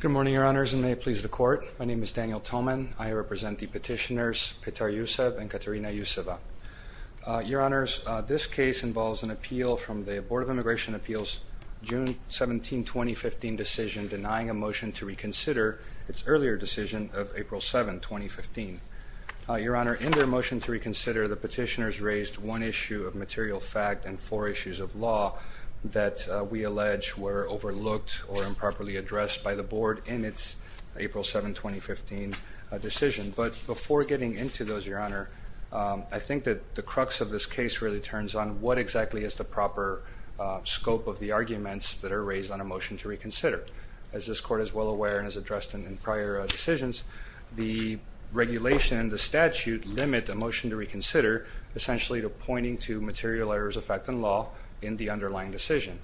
Good morning, Your Honors, and may it please the Court. My name is Daniel Thoman. I represent the petitioners Petar Yusev and Katerina Yuseva. Your Honors, this case involves an appeal from the Board of Immigration Appeals' June 17, 2015, decision denying a motion to reconsider its earlier decision of April 7, 2015. Your Honor, in their motion to reconsider, the petitioners raised one issue of material fact and four issues of law that we allege were overlooked or improperly addressed by the Board in its April 7, 2015 decision. But before getting into those, Your Honor, I think that the crux of this case really turns on what exactly is the proper scope of the arguments that are raised on a motion to reconsider. As this Court is well aware and has addressed in prior decisions, the regulation and the statute limit a motion to reconsider essentially to pointing to material errors of fact and law in the underlying decision.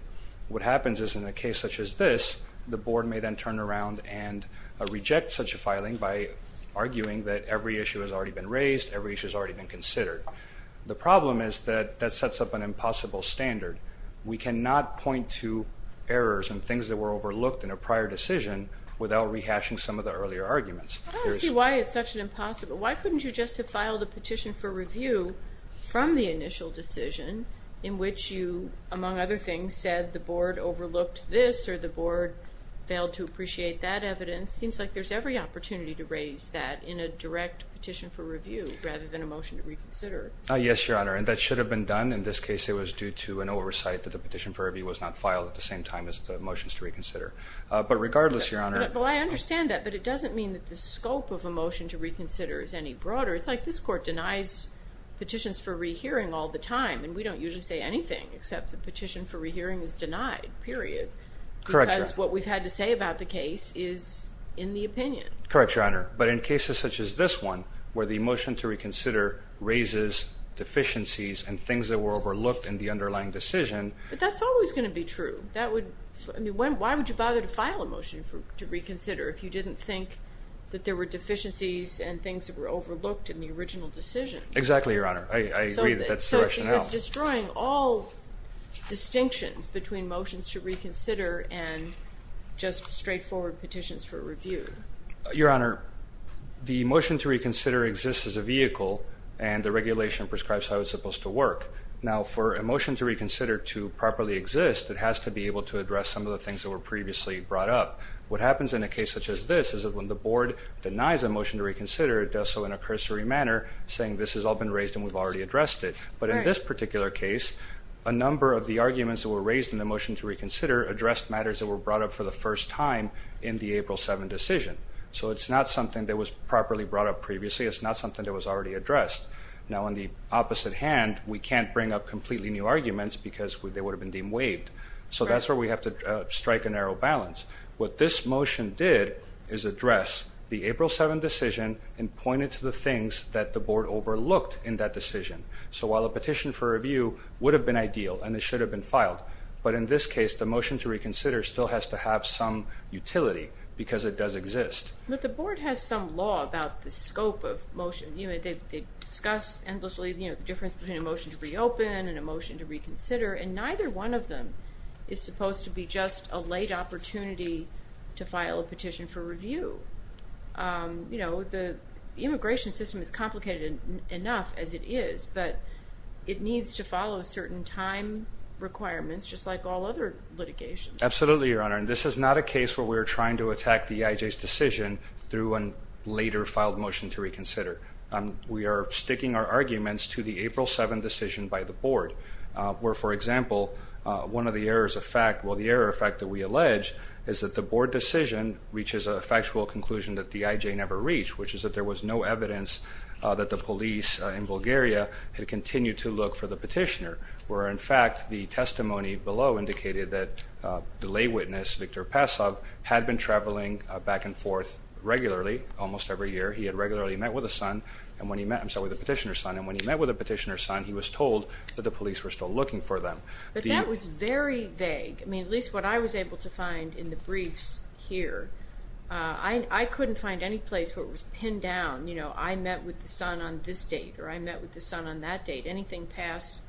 What happens is in a case such as this, the Board may then turn around and reject such a filing by arguing that every issue has already been raised, every issue has already been considered. The problem is that that sets up an impossible standard. We cannot point to errors and things that were overlooked in a prior decision without rehashing some of the earlier arguments. I don't see why it's such an impossible. Why couldn't you just have filed a petition for review from the initial decision in which you, among other things, said the Board overlooked this or the Board failed to appreciate that evidence? It seems like there's every opportunity to raise that in a direct petition for review rather than a motion to reconsider. Yes, Your Honor, and that should have been done. In this case, it was due to an oversight that the petition for review was not filed at the same time as the motions to reconsider. But regardless, Your Honor— Well, I understand that, but it doesn't mean that the scope of a motion to reconsider is any broader. It's like this Court denies petitions for rehearing all the time, and we don't usually say anything except the petition for rehearing is denied, period. Correct, Your Honor. Because what we've had to say about the case is in the opinion. Correct, Your Honor. But in cases such as this one, where the motion to reconsider raises deficiencies and things that were overlooked in the underlying decision— But that's always going to be true. I mean, why would you bother to file a motion to reconsider if you didn't think that there were deficiencies and things that were overlooked in the original decision? Exactly, Your Honor. I agree that that's the rationale. It's destroying all distinctions between motions to reconsider and just straightforward petitions for review. Your Honor, the motion to reconsider exists as a vehicle, and the regulation prescribes how it's supposed to work. Now, for a motion to reconsider to properly exist, it has to be able to address some of the things that were previously brought up. What happens in a case such as this is that when the Board denies a motion to reconsider, it does so in a cursory manner, saying this has all been raised and we've already addressed it. But in this particular case, a number of the arguments that were raised in the motion to reconsider addressed matters that were brought up for the first time in the April 7 decision. So it's not something that was properly brought up previously. It's not something that was already addressed. Now, on the opposite hand, we can't bring up completely new arguments because they would have been deemed waived. So that's where we have to strike a narrow balance. What this motion did is address the April 7 decision and point it to the things that the Board overlooked in that decision. So while a petition for review would have been ideal and it should have been filed, but in this case, the motion to reconsider still has to have some utility because it does exist. But the Board has some law about the scope of motion. They discuss endlessly the difference between a motion to reopen and a motion to reconsider, and neither one of them is supposed to be just a late opportunity to file a petition for review. The immigration system is complicated enough as it is, but it needs to follow certain time requirements just like all other litigations. Absolutely, Your Honor, and this is not a case where we are trying to attack the EIJ's decision through a later filed motion to reconsider. We are sticking our arguments to the April 7 decision by the Board, where, for example, one of the errors of fact, well, the error of fact that we allege, is that the Board decision reaches a factual conclusion that the EIJ never reached, which is that there was no evidence that the police in Bulgaria had continued to look for the petitioner, where, in fact, the testimony below indicated that the lay witness, Victor Pasov, had been traveling back and forth regularly almost every year. He had regularly met with a petitioner's son, and when he met with a petitioner's son, he was told that the police were still looking for them. But that was very vague. I mean, at least what I was able to find in the briefs here, I couldn't find any place where it was pinned down, you know, I met with the son on this date, or I met with the son on that date, anything past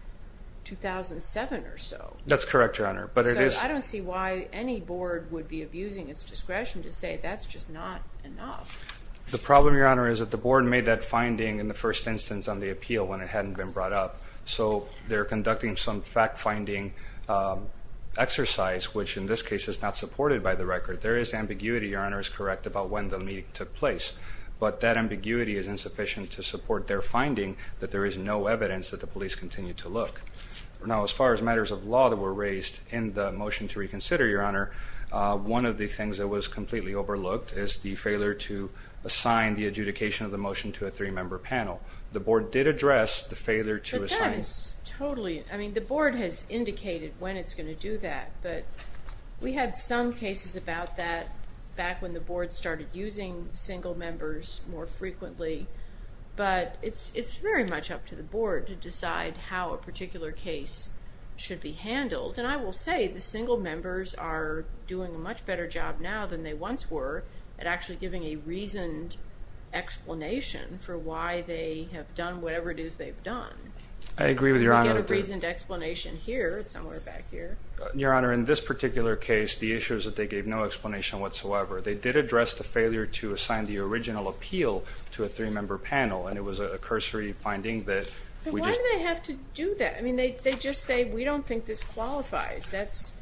2007 or so. That's correct, Your Honor. So I don't see why any Board would be abusing its discretion to say that's just not enough. The problem, Your Honor, is that the Board made that finding in the first instance on the appeal when it hadn't been brought up. So they're conducting some fact-finding exercise, which in this case is not supported by the record. There is ambiguity, Your Honor, is correct, about when the meeting took place. But that ambiguity is insufficient to support their finding that there is no evidence that the police continue to look. Now, as far as matters of law that were raised in the motion to reconsider, Your Honor, one of the things that was completely overlooked is the failure to assign the adjudication of the motion to a three-member panel. The Board did address the failure to assign. But that is totally, I mean, the Board has indicated when it's going to do that. But we had some cases about that back when the Board started using single members more frequently. But it's very much up to the Board to decide how a particular case should be handled. And I will say the single members are doing a much better job now than they once were at actually giving a reasoned explanation for why they have done whatever it is they've done. I agree with Your Honor. We had a reasoned explanation here, somewhere back here. Your Honor, in this particular case, the issue is that they gave no explanation whatsoever. They did address the failure to assign the original appeal to a three-member panel. And it was a cursory finding that we just... But why do they have to do that? I mean, they just say, we don't think this qualifies. That's,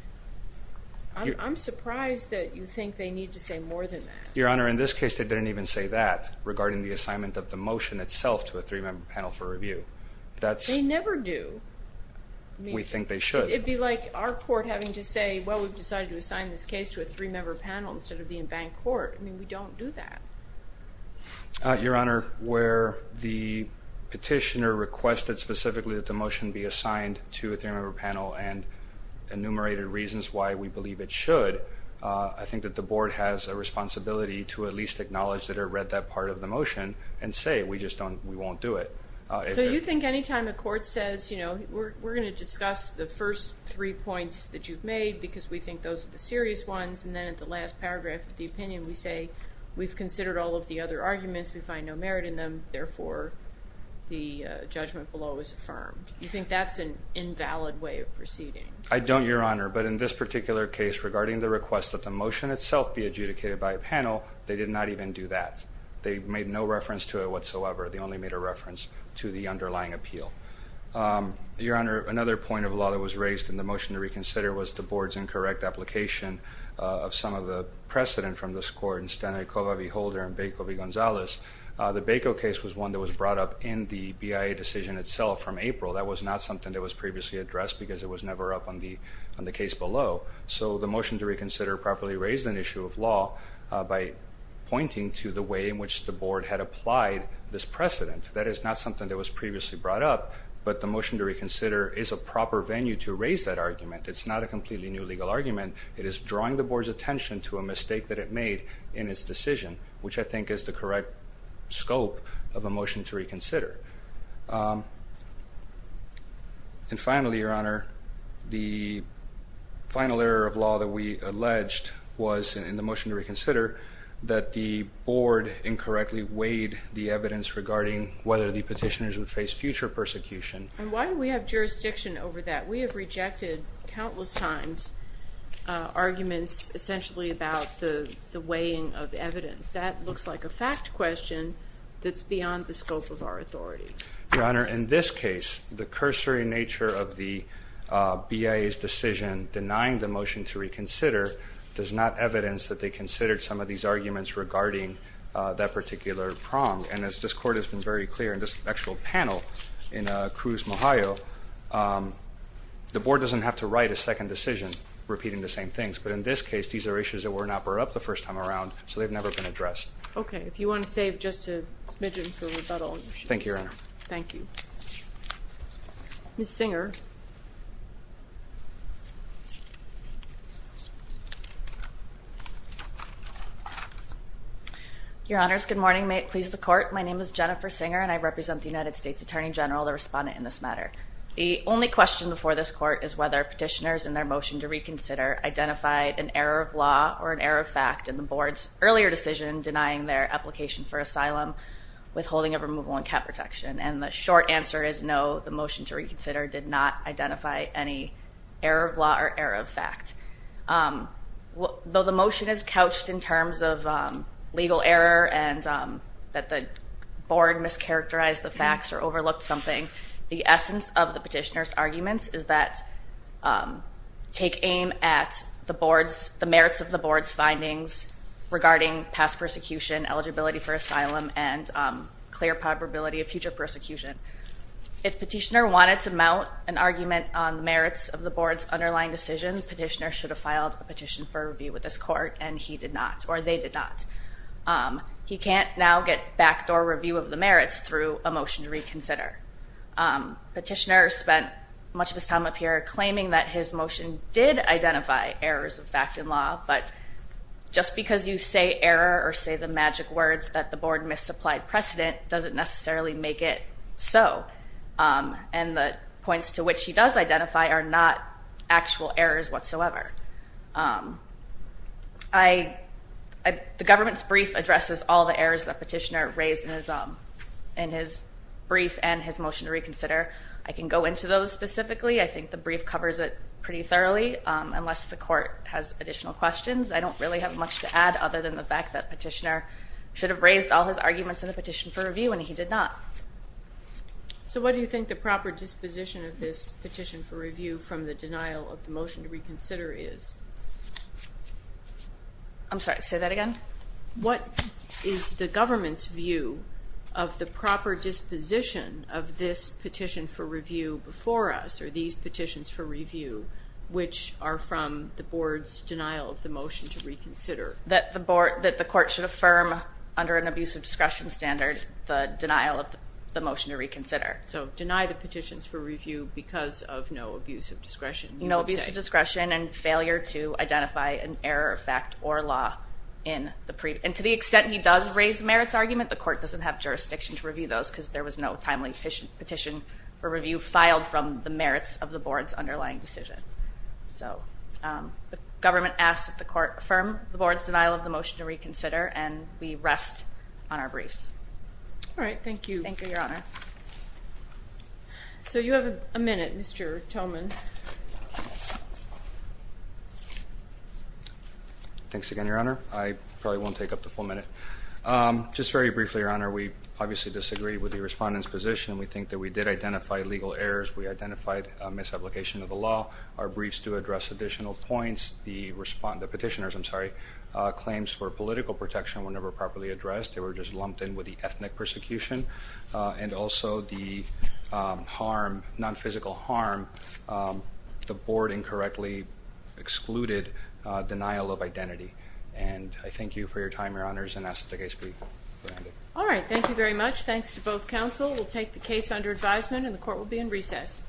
I'm surprised that you think they need to say more than that. Your Honor, in this case, they didn't even say that regarding the assignment of the motion itself to a three-member panel for review. They never do. We think they should. It would be like our court having to say, well, we've decided to assign this case to a three-member panel instead of the embanked court. I mean, we don't do that. Your Honor, where the petitioner requested specifically that the motion be assigned to a three-member panel and enumerated reasons why we believe it should, I think that the Board has a responsibility to at least acknowledge that it read that part of the motion and say, we just don't, we won't do it. So you think any time a court says, you know, we're going to discuss the first three points that you've made because we think those are the serious ones, and then at the last paragraph of the opinion we say, we've considered all of the other arguments, we find no merit in them, therefore the judgment below is affirmed. You think that's an invalid way of proceeding? I don't, Your Honor, but in this particular case, regarding the request that the motion itself be adjudicated by a panel, they did not even do that. They made no reference to it whatsoever. They only made a reference to the underlying appeal. Your Honor, another point of law that was raised in the motion to reconsider was the Board's incorrect application of some of the precedent from this court in Stanaikova v. Holder and Baco v. Gonzalez. The Baco case was one that was brought up in the BIA decision itself from April. That was not something that was previously addressed because it was never up on the case below. So the motion to reconsider properly raised an issue of law by pointing to the way in which the Board had applied this precedent. That is not something that was previously brought up, but the motion to reconsider is a proper venue to raise that argument. It's not a completely new legal argument. It is drawing the Board's attention to a mistake that it made in its decision, which I think is the correct scope of a motion to reconsider. And finally, Your Honor, the final error of law that we alleged was in the motion to reconsider that the Board incorrectly weighed the evidence regarding whether the petitioners would face future persecution. And why do we have jurisdiction over that? We have rejected countless times arguments essentially about the weighing of evidence. That looks like a fact question that's beyond the scope of our authority. Your Honor, in this case, the cursory nature of the BIA's decision denying the motion to reconsider does not evidence that they considered some of these arguments regarding that particular prong. And as this Court has been very clear in this actual panel in Cruz, Ohio, the Board doesn't have to write a second decision repeating the same things. But in this case, these are issues that were not brought up the first time around, so they've never been addressed. Okay. If you want to save just a smidgen for rebuttal issues. Thank you, Your Honor. Thank you. Ms. Singer. Your Honors, good morning. May it please the Court, my name is Jennifer Singer, and I represent the United States Attorney General, the respondent in this matter. The only question before this Court is whether petitioners in their motion to reconsider identified an error of law or an error of fact in the Board's earlier decision denying their application for asylum, withholding of removal, and cap protection. And the short answer is no, the motion to reconsider did not identify any error of law or error of fact. Though the motion is couched in terms of legal error and that the Board mischaracterized the facts or overlooked something, the essence of the petitioner's arguments is that take aim at the merits of the Board's findings regarding past persecution, eligibility for asylum, and clear probability of future persecution. If petitioner wanted to mount an argument on the merits of the Board's underlying decision, petitioner should have filed a petition for review with this Court, and he did not, or they did not. He can't now get backdoor review of the merits through a motion to reconsider. Petitioner spent much of his time up here claiming that his motion did identify errors of fact in law, but just because you say error or say the magic words that the Board misapplied precedent doesn't necessarily make it so. And the points to which he does identify are not actual errors whatsoever. The government's brief addresses all the errors that petitioner raised in his brief and his motion to reconsider. I can go into those specifically. I think the brief covers it pretty thoroughly, unless the Court has additional questions. I don't really have much to add other than the fact that petitioner should have raised all his arguments in the petition for review, and he did not. So what do you think the proper disposition of this petition for review from the denial of the motion to reconsider is? I'm sorry, say that again? What is the government's view of the proper disposition of this petition for review before us, or these petitions for review, which are from the Board's denial of the motion to reconsider? That the Court should affirm under an abuse of discretion standard the denial of the motion to reconsider. So deny the petitions for review because of no abuse of discretion, you would say? No abuse of discretion and failure to identify an error of fact or law in the brief. And to the extent he does raise the merits argument, the Court doesn't have jurisdiction to review those because there was no timely petition for review filed from the merits of the Board's underlying decision. So the government asks that the Court affirm the Board's denial of the motion to reconsider, and we rest on our briefs. All right. Thank you. Thank you, Your Honor. So you have a minute, Mr. Toman. Thanks again, Your Honor. I probably won't take up the full minute. Just very briefly, Your Honor, we obviously disagree with the Respondent's position. We think that we did identify legal errors. We identified a misapplication of the law. Our briefs do address additional points. The petitioners' claims for political protection were never properly addressed. They were just lumped in with the ethnic persecution and also the harm, non-physical harm. The Board incorrectly excluded denial of identity. And I thank you for your time, Your Honors, and ask that the case be granted. All right. Thank you very much. Thanks to both counsel. We'll take the case under advisement, and the Court will be in recess.